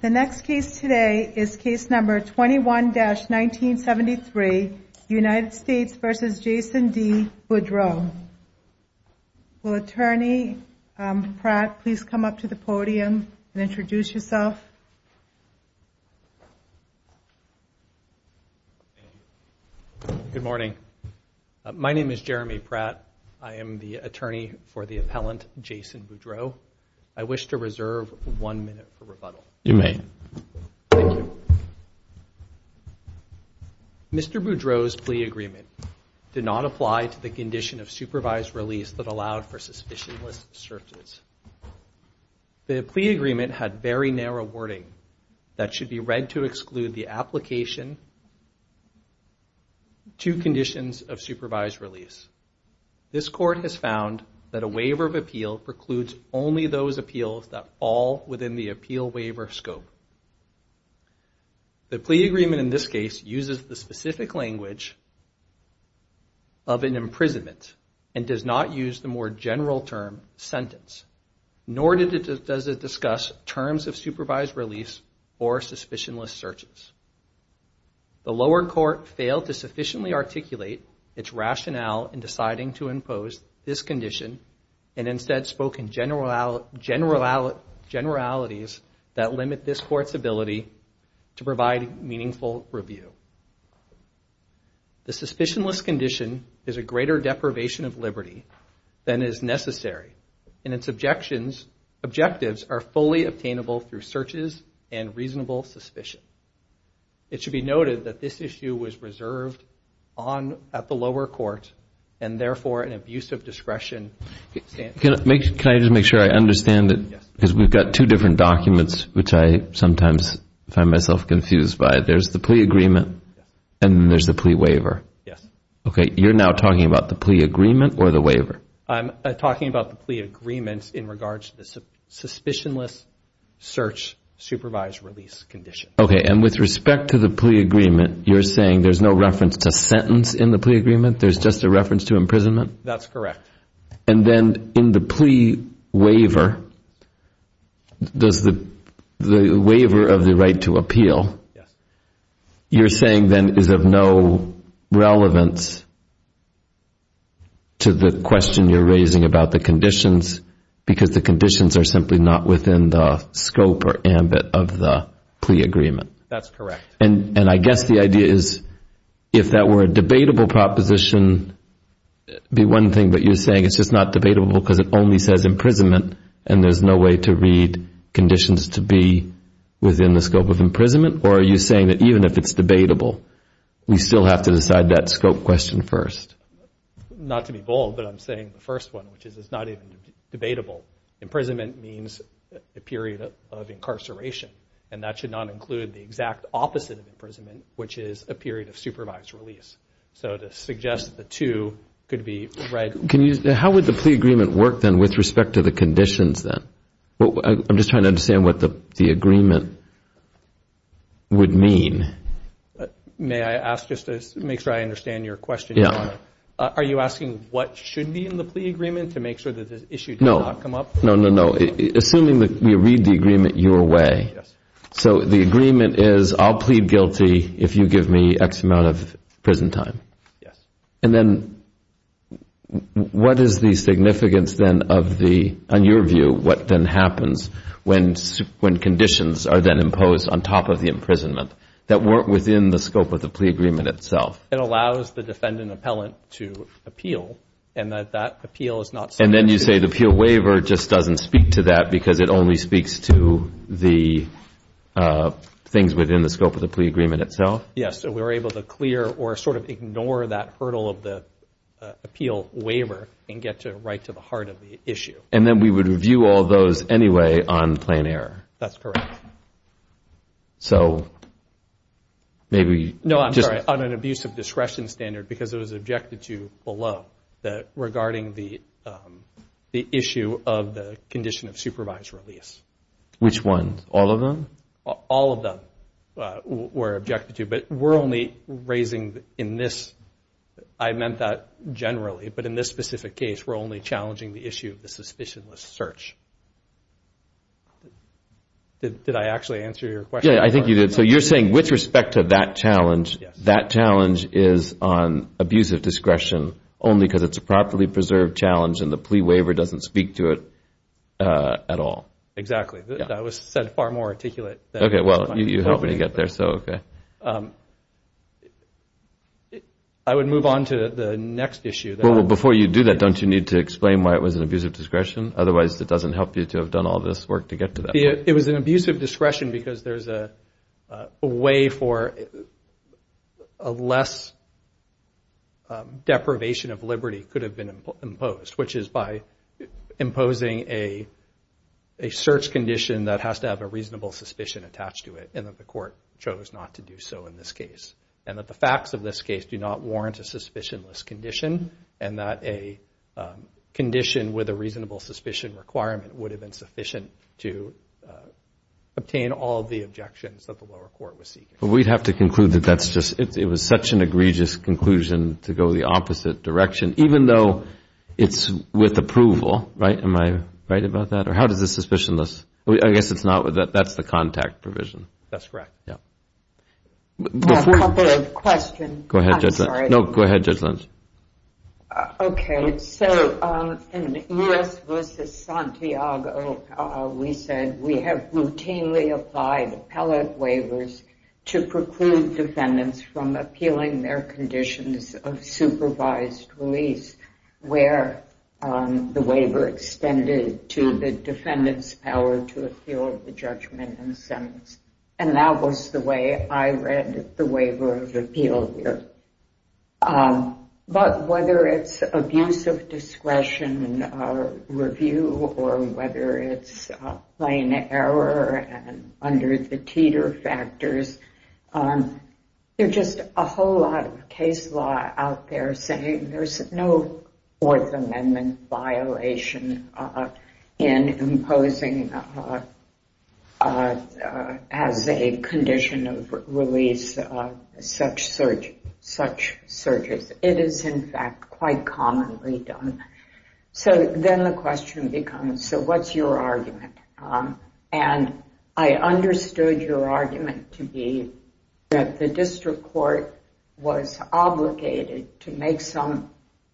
The next case today is case number 21-1973, United States v. Jason D. Boudreau. Will Attorney Pratt please come up to the podium and introduce yourself? Good morning. My name is Jeremy Pratt. I am the attorney for the appellant Jason Boudreau. I wish to reserve one minute for rebuttal. You may. Thank you. Mr. Boudreau's plea agreement did not apply to the condition of supervised release that allowed for suspicionless searches. The plea agreement had very narrow wording that should be read to exclude the application to conditions of supervised release. This court has found that a waiver of appeal precludes only those appeals that fall within the appeal waiver scope. The plea agreement in this case uses the specific language of an imprisonment and does not use the more general term sentence, nor does it discuss terms of supervised release or suspicionless searches. The lower court failed to sufficiently articulate its rationale in deciding to impose this condition and instead spoke in generalities that limit this court's ability to provide meaningful review. The suspicionless condition is a greater deprivation of liberty than is necessary, and its objectives are fully obtainable through searches and reasonable suspicion. It should be noted that this issue was reserved at the lower court and, therefore, an abuse of discretion. Can I just make sure I understand it? Yes. Because we've got two different documents, which I sometimes find myself confused by. There's the plea agreement and there's the plea waiver. Yes. Okay. You're now talking about the plea agreement or the waiver? I'm talking about the plea agreement in regards to the suspicionless search supervised release condition. Okay. And with respect to the plea agreement, you're saying there's no reference to sentence in the plea agreement, there's just a reference to imprisonment? That's correct. And then in the plea waiver, the waiver of the right to appeal, you're saying then is of no relevance to the question you're raising about the conditions because the conditions are simply not within the scope or ambit of the plea agreement? That's correct. And I guess the idea is if that were a debatable proposition, it would be one thing, but you're saying it's just not debatable because it only says imprisonment and there's no way to read conditions to be within the scope of imprisonment? Or are you saying that even if it's debatable, we still have to decide that scope question first? Not to be bold, but I'm saying the first one, which is it's not even debatable. Imprisonment means a period of incarceration, and that should not include the exact opposite of imprisonment, which is a period of supervised release. So to suggest the two could be right. How would the plea agreement work then with respect to the conditions then? I'm just trying to understand what the agreement would mean. May I ask just to make sure I understand your question? Yeah. Are you asking what should be in the plea agreement to make sure that this issue does not come up? No, no, no. Assuming that we read the agreement your way. So the agreement is I'll plead guilty if you give me X amount of prison time. Yes. And then what is the significance then of the, in your view, what then happens when conditions are then imposed on top of the imprisonment that weren't within the scope of the plea agreement itself? It allows the defendant appellant to appeal, and that appeal is not subject to appeal. And then you say the appeal waiver just doesn't speak to that because it only speaks to the things within the scope of the plea agreement itself? Yes. So we were able to clear or sort of ignore that hurdle of the appeal waiver and get to right to the heart of the issue. And then we would review all those anyway on plain error? That's correct. So maybe just... No, I'm sorry. On an abuse of discretion standard because it was objected to below, regarding the issue of the condition of supervised release. Which one? All of them? All of them were objected to. But we're only raising in this, I meant that generally, but in this specific case we're only challenging the issue of the suspicionless search. Did I actually answer your question? Yeah, I think you did. So you're saying with respect to that challenge, that challenge is on abuse of discretion only because it's a properly preserved challenge and the plea waiver doesn't speak to it at all? Exactly. That was said far more articulate. Okay, well, you helped me get there, so okay. I would move on to the next issue. Well, before you do that, don't you need to explain why it was an abuse of discretion? Otherwise, it doesn't help you to have done all this work to get to that. It was an abuse of discretion because there's a way for a less deprivation of liberty could have been imposed, which is by imposing a search condition that has to have a reasonable suspicion attached to it and that the court chose not to do so in this case. And that the facts of this case do not warrant a suspicionless condition and that a condition with a reasonable suspicion requirement would have been sufficient to obtain all of the objections that the lower court was seeking. But we'd have to conclude that that's just, it was such an egregious conclusion to go the opposite direction, even though it's with approval, right? Am I right about that? Or how does the suspicionless, I guess it's not, that's the contact provision. That's correct. Yeah. A couple of questions. Go ahead, Judge Lentz. I'm sorry. No, go ahead, Judge Lentz. Okay. So in U.S. v. Santiago, we said, we have routinely applied appellate waivers to preclude defendants from appealing their conditions of supervised release, where the waiver extended to the defendant's power to appeal the judgment and sentence. And that was the way I read the waiver of appeal here. But whether it's abuse of discretion review or whether it's plain error under the Teeter factors, there's just a whole lot of case law out there saying there's no Fourth Amendment violation in imposing as a condition of release such searches. It is, in fact, quite commonly done. So then the question becomes, so what's your argument? And I understood your argument to be that the district court was obligated to make some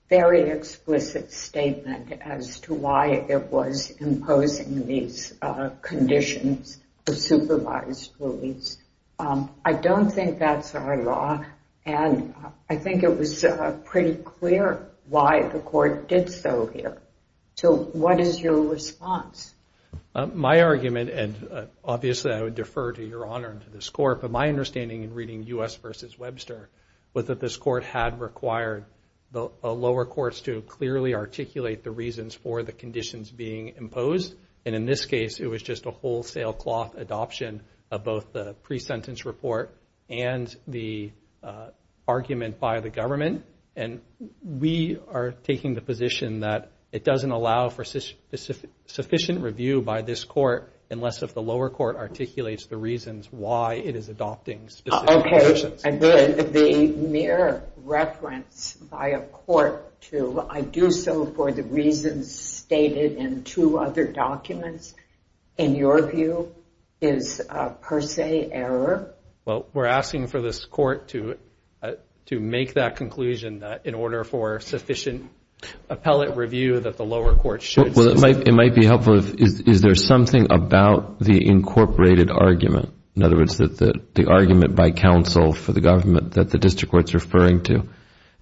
very explicit statement as to why it was imposing these conditions of supervised release. I don't think that's our law, and I think it was pretty clear why the court did so here. So what is your response? My argument, and obviously I would defer to Your Honor and to this court, but my understanding in reading U.S. v. Webster was that this court had required the lower courts to clearly articulate the reasons for the conditions being imposed. And in this case, it was just a wholesale cloth adoption of both the pre-sentence report and the argument by the government. And we are taking the position that it doesn't allow for sufficient review by this court unless if the lower court articulates the reasons why it is adopting specific conditions. Okay. The mere reference by a court to I do so for the reasons stated in two other documents, in your view, is per se error? Well, we're asking for this court to make that conclusion that in order for sufficient appellate review that the lower court should... Well, it might be helpful. Is there something about the incorporated argument, in other words the argument by counsel for the government that the district court is referring to,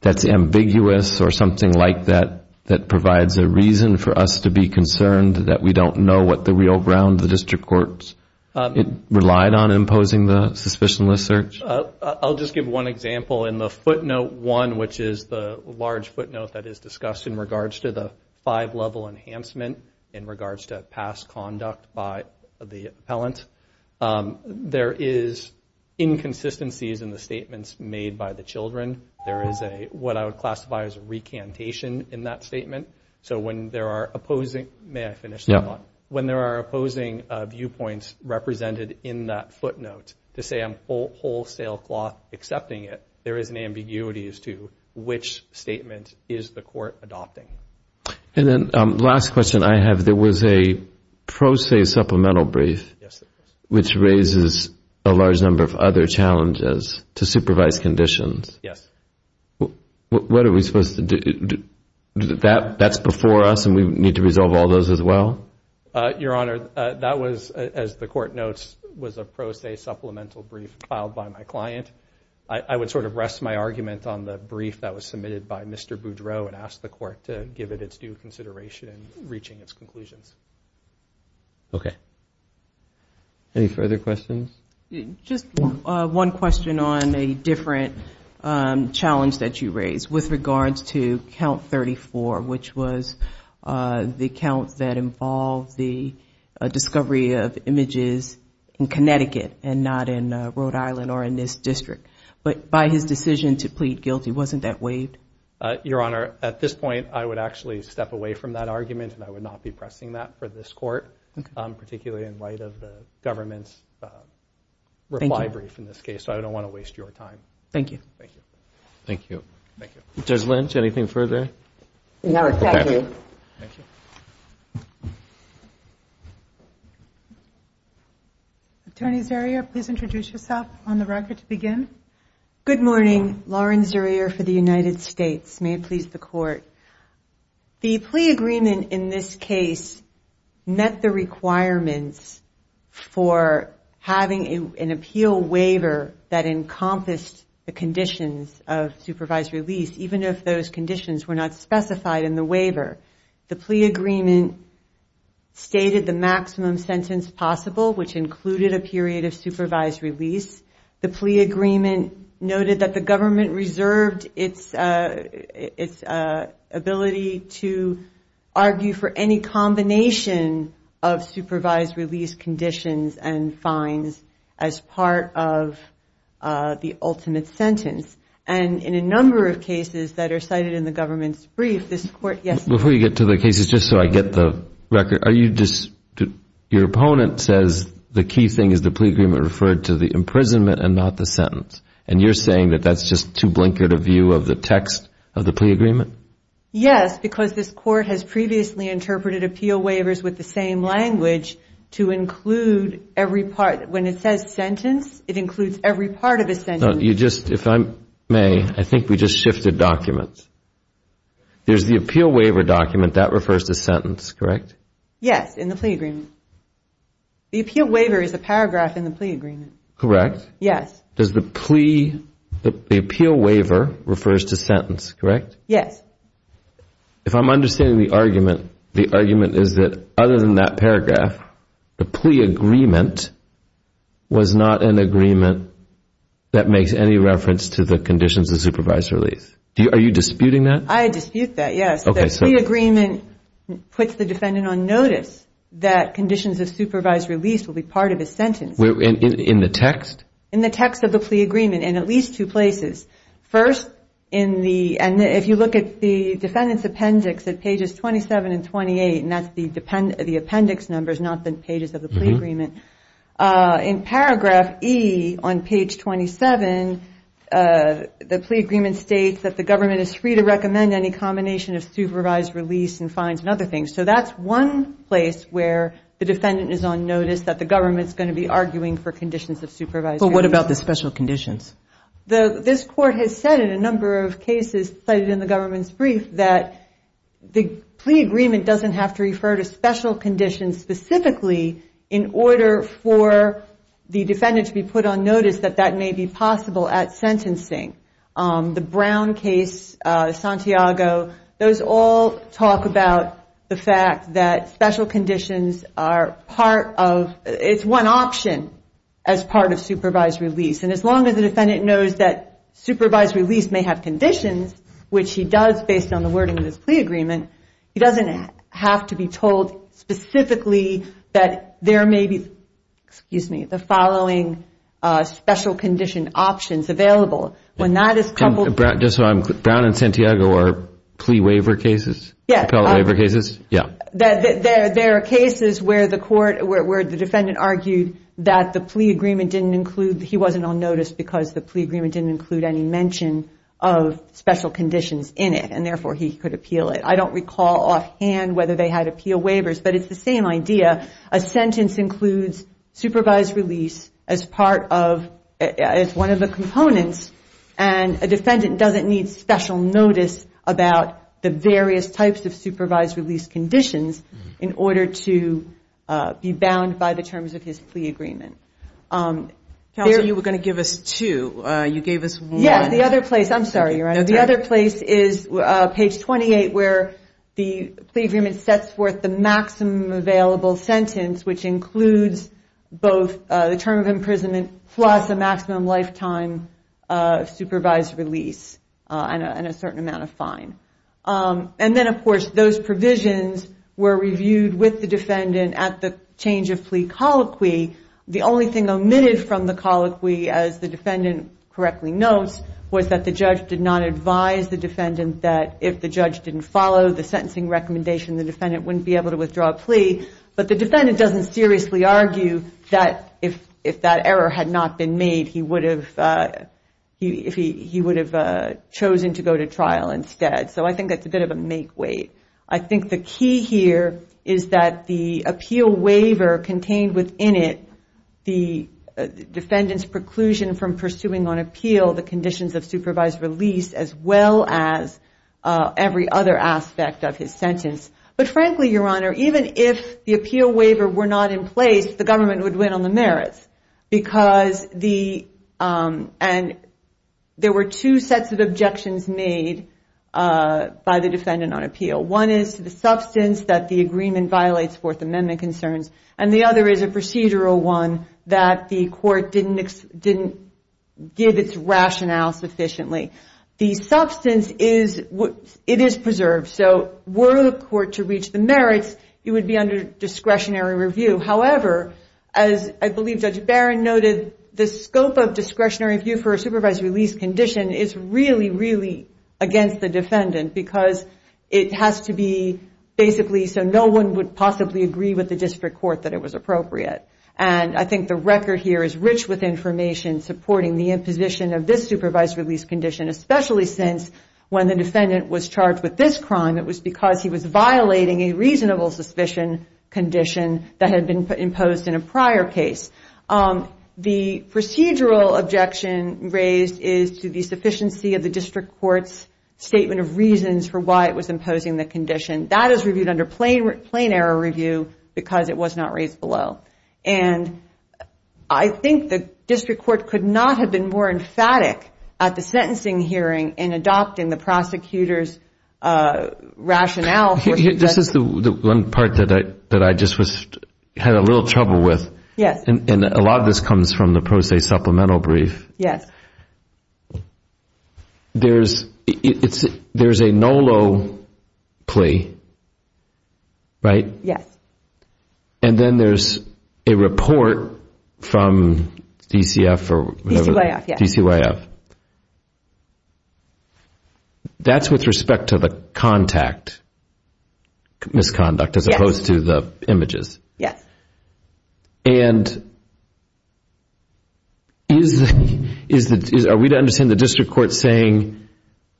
that's ambiguous or something like that that provides a reason for us to be concerned that we don't know what the real ground the district court relied on imposing the suspicionless search? I'll just give one example. In the footnote one, which is the large footnote that is discussed in regards to the five-level enhancement in regards to past conduct by the appellant, there is inconsistencies in the statements made by the children. There is what I would classify as a recantation in that statement. So when there are opposing... May I finish that one? Yeah. There is an ambiguity as to which statement is the court adopting. And then the last question I have, there was a pro se supplemental brief, which raises a large number of other challenges to supervise conditions. Yes. What are we supposed to do? That's before us and we need to resolve all those as well? Your Honor, that was, as the court notes, was a pro se supplemental brief filed by my client. I would sort of rest my argument on the brief that was submitted by Mr. Boudreau and ask the court to give it its due consideration in reaching its conclusions. Okay. Any further questions? Just one question on a different challenge that you raised with regards to Count 34, which was the count that involved the discovery of images in Connecticut and not in Rhode Island or in this district. But by his decision to plead guilty, wasn't that waived? Your Honor, at this point, I would actually step away from that argument and I would not be pressing that for this court, particularly in light of the government's reply brief in this case. So I don't want to waste your time. Thank you. Thank you. Thank you. Judge Lynch, anything further? No, thank you. Thank you. Attorney Zerrier, please introduce yourself on the record to begin. Good morning. Lauren Zerrier for the United States. May it please the court. The plea agreement in this case met the requirements for having an appeal waiver that encompassed the conditions of supervised release, even if those conditions were not specified in the waiver. The plea agreement stated the maximum sentence possible, which included a period of supervised release. The plea agreement noted that the government reserved its ability to argue for any combination of supervised release conditions and fines as part of the ultimate sentence. And in a number of cases that are cited in the government's brief, this court, yes. Before you get to the cases, just so I get the record, your opponent says the key thing is the plea agreement referred to the imprisonment and not the sentence. And you're saying that that's just too blinkered a view of the text of the plea agreement? Yes, because this court has previously interpreted appeal waivers with the same language to include every part. When it says sentence, it includes every part of a sentence. If I may, I think we just shifted documents. There's the appeal waiver document. That refers to sentence, correct? Yes, in the plea agreement. The appeal waiver is a paragraph in the plea agreement. Correct. Yes. The appeal waiver refers to sentence, correct? Yes. If I'm understanding the argument, the argument is that other than that paragraph, the plea agreement was not an agreement that makes any reference to the conditions of supervised release. Are you disputing that? I dispute that, yes. The plea agreement puts the defendant on notice that conditions of supervised release will be part of his sentence. In the text? In the text of the plea agreement in at least two places. First, if you look at the defendant's appendix at pages 27 and 28, and that's the appendix numbers, not the pages of the plea agreement, in paragraph E on page 27, the plea agreement states that the government is free to recommend any combination of supervised release and fines and other things. So that's one place where the defendant is on notice that the government is going to be arguing for conditions of supervised release. But what about the special conditions? This court has said in a number of cases cited in the government's brief that the plea agreement doesn't have to refer to special conditions specifically in order for the defendant to be put on notice that that may be possible at sentencing. The Brown case, Santiago, those all talk about the fact that special conditions are part of, it's one option as part of supervised release. And as long as the defendant knows that supervised release may have conditions, which he does based on the wording of this plea agreement, he doesn't have to be told specifically that there may be, excuse me, the following special condition options available. When that is coupled... Brown and Santiago are plea waiver cases? Yeah. There are cases where the court, where the defendant argued that the plea agreement didn't include, he wasn't on notice because the plea agreement didn't include any mention of special conditions in it, and therefore he could appeal it. I don't recall offhand whether they had appeal waivers, but it's the same idea. A sentence includes supervised release as part of, as one of the components, and a defendant doesn't need special notice about the various types of supervised release conditions in order to be bound by the terms of his plea agreement. Counsel, you were going to give us two. You gave us one. Yes, the other place. I'm sorry, Your Honor. The other place is page 28, where the plea agreement sets forth the maximum available sentence, which includes both the term of imprisonment plus a maximum lifetime supervised release and a certain amount of fine. And then, of course, those provisions were reviewed with the defendant at the change of plea colloquy. The only thing omitted from the colloquy, as the defendant correctly notes, was that the judge did not advise the defendant that if the judge didn't follow the sentencing recommendation, the defendant wouldn't be able to withdraw a plea. But the defendant doesn't seriously argue that if that error had not been made, he would have chosen to go to trial instead. So I think that's a bit of a make-wait. I think the key here is that the appeal waiver contained within it the conditions of supervised release as well as every other aspect of his sentence. But frankly, Your Honor, even if the appeal waiver were not in place, the government would win on the merits. And there were two sets of objections made by the defendant on appeal. One is to the substance that the agreement violates Fourth Amendment concerns, and the other is a procedural one that the court didn't give its rationale sufficiently. The substance is preserved. So were the court to reach the merits, it would be under discretionary review. However, as I believe Judge Barron noted, the scope of discretionary review for a supervised release condition is really, really against the defendant because it has to be basically so no one would possibly agree with the district court that it was appropriate. And I think the record here is rich with information supporting the position of this supervised release condition, especially since when the defendant was charged with this crime, it was because he was violating a reasonable suspicion condition that had been imposed in a prior case. The procedural objection raised is to the sufficiency of the district court's statement of reasons for why it was imposing the condition. That is reviewed under plain error review because it was not raised below. And I think the district court could not have been more emphatic at the sentencing hearing in adopting the prosecutor's rationale. This is the one part that I just had a little trouble with. Yes. And a lot of this comes from the pro se supplemental brief. Yes. There's a NOLO plea, right? Yes. And then there's a report from DCF or whatever. DCYF, yes. DCYF. That's with respect to the contact misconduct as opposed to the images. Yes. And are we to understand the district court saying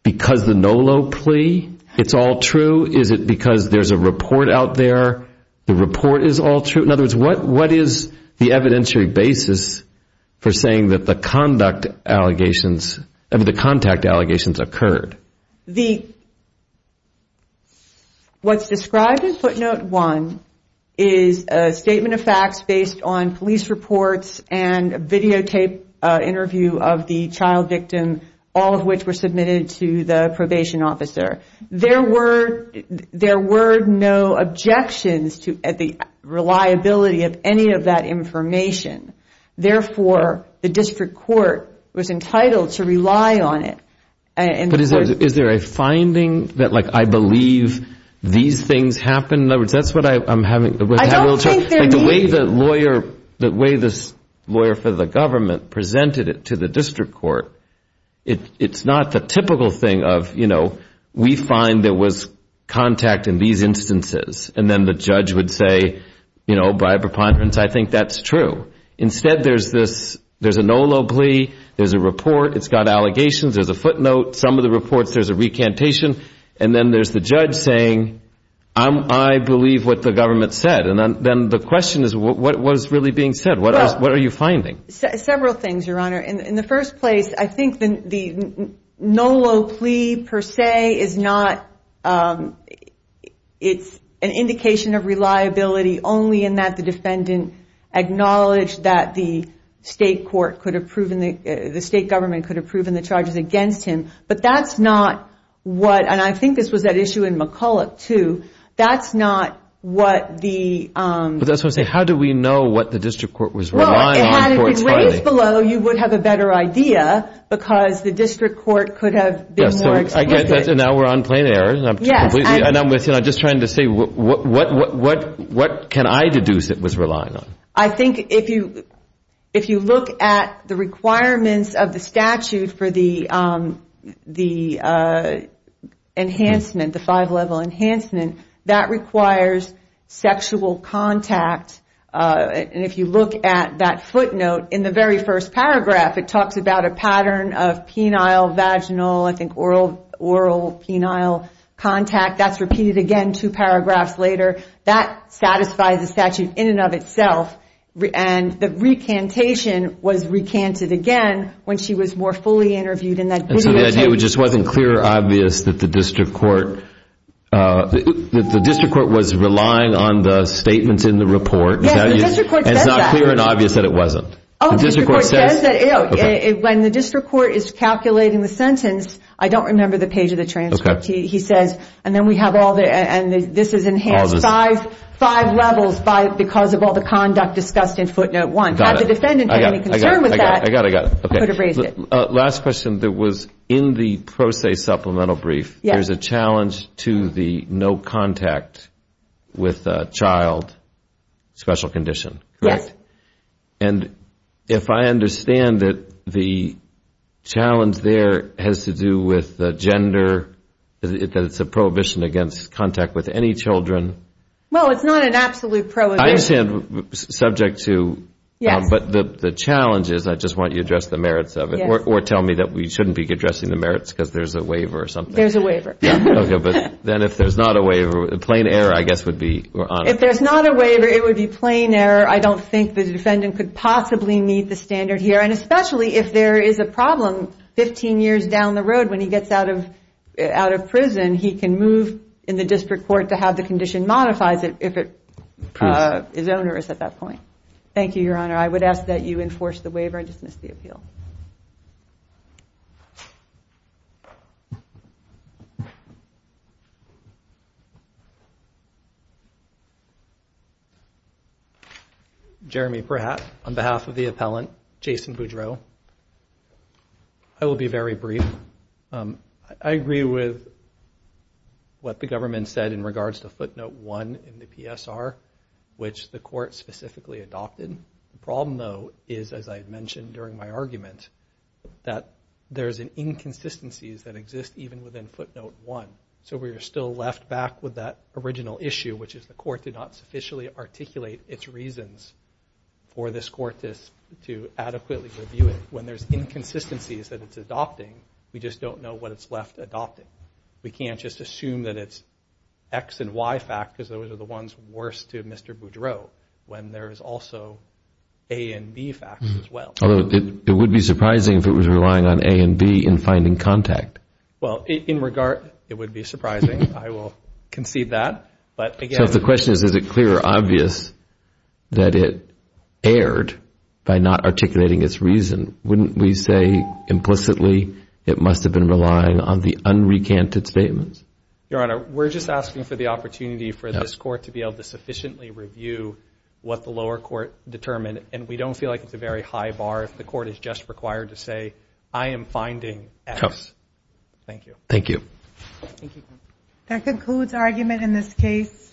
because the NOLO plea, it's all true? Is it because there's a report out there? The report is all true? In other words, what is the evidentiary basis for saying that the contact allegations occurred? What's described in footnote one is a statement of facts based on police reports and videotape interview of the child victim, all of which were submitted to the probation officer. There were no objections to the reliability of any of that information. Therefore, the district court was entitled to rely on it. But is there a finding that, like, I believe these things happened? In other words, that's what I'm having trouble with. I don't think there is. The way this lawyer for the government presented it to the district court, it's not the typical thing of, you know, we find there was contact in these instances. And then the judge would say, you know, by a preponderance, I think that's true. Instead, there's a NOLO plea. There's a report. It's got allegations. There's a footnote. Some of the reports, there's a recantation. And then there's the judge saying, I believe what the government said. And then the question is, what is really being said? What are you finding? Several things, Your Honor. In the first place, I think the NOLO plea, per se, is not an indication of reliability, only in that the defendant acknowledged that the state court could have proven, the state government could have proven the charges against him. But that's not what, and I think this was at issue in McCulloch too, that's not what the... But that's what I'm saying. How do we know what the district court was relying on? In ways below, you would have a better idea because the district court could have been more explicit. Now we're on plain error. Yes. And I'm just trying to say, what can I deduce it was relying on? I think if you look at the requirements of the statute for the enhancement, the five-level enhancement, that requires sexual contact. And if you look at that footnote in the very first paragraph, it talks about a pattern of penile, vaginal, I think oral, penile contact. That's repeated again two paragraphs later. That satisfies the statute in and of itself. And the recantation was recanted again when she was more fully interviewed in that video... And it's not clear and obvious that it wasn't. When the district court is calculating the sentence, I don't remember the page of the transcript. He says, and this is enhanced five levels because of all the conduct discussed in footnote one. Had the defendant had any concern with that... I got it, I got it. Could have raised it. Last question. There was in the pro se supplemental brief, there's a challenge to the no contact with a child special condition, correct? Yes. And if I understand it, the challenge there has to do with gender, that it's a prohibition against contact with any children. Well, it's not an absolute prohibition. I understand, subject to... Yes. But the challenge is, I just want you to address the merits of it. Yes. Or tell me that we shouldn't be addressing the merits because there's a waiver or something. There's a waiver. Okay, but then if there's not a waiver, a plain error I guess would be... If there's not a waiver, it would be plain error. I don't think the defendant could possibly meet the standard here. And especially if there is a problem 15 years down the road when he gets out of prison, he can move in the district court to have the condition modified if his owner is at that point. Thank you, Your Honor. I would ask that you enforce the waiver and dismiss the appeal. Jeremy Pratt, on behalf of the appellant, Jason Boudreau. I will be very brief. I agree with what the government said in regards to footnote one in the PSR, which the court specifically adopted. The problem, though, is, as I mentioned during my argument, that there's inconsistencies that exist even within footnote one. So we are still left back with that original issue, which is the court did not sufficiently articulate its reasons for this court to adequately review it. When there's inconsistencies that it's adopting, we just don't know what it's left adopting. We can't just assume that it's X and Y facts, because those are the ones worse to Mr. Boudreau, when there is also A and B facts as well. It would be surprising if it was relying on A and B in finding contact. Well, in regard, it would be surprising. I will concede that. So the question is, is it clear or obvious that it erred by not articulating its reason? Wouldn't we say implicitly it must have been relying on the unrecanted statements? Your Honor, we're just asking for the opportunity for this court to be able to sufficiently review what the lower court determined, and we don't feel like it's a very high bar if the court is just required to say, I am finding X. Thank you. Thank you. That concludes our argument in this case.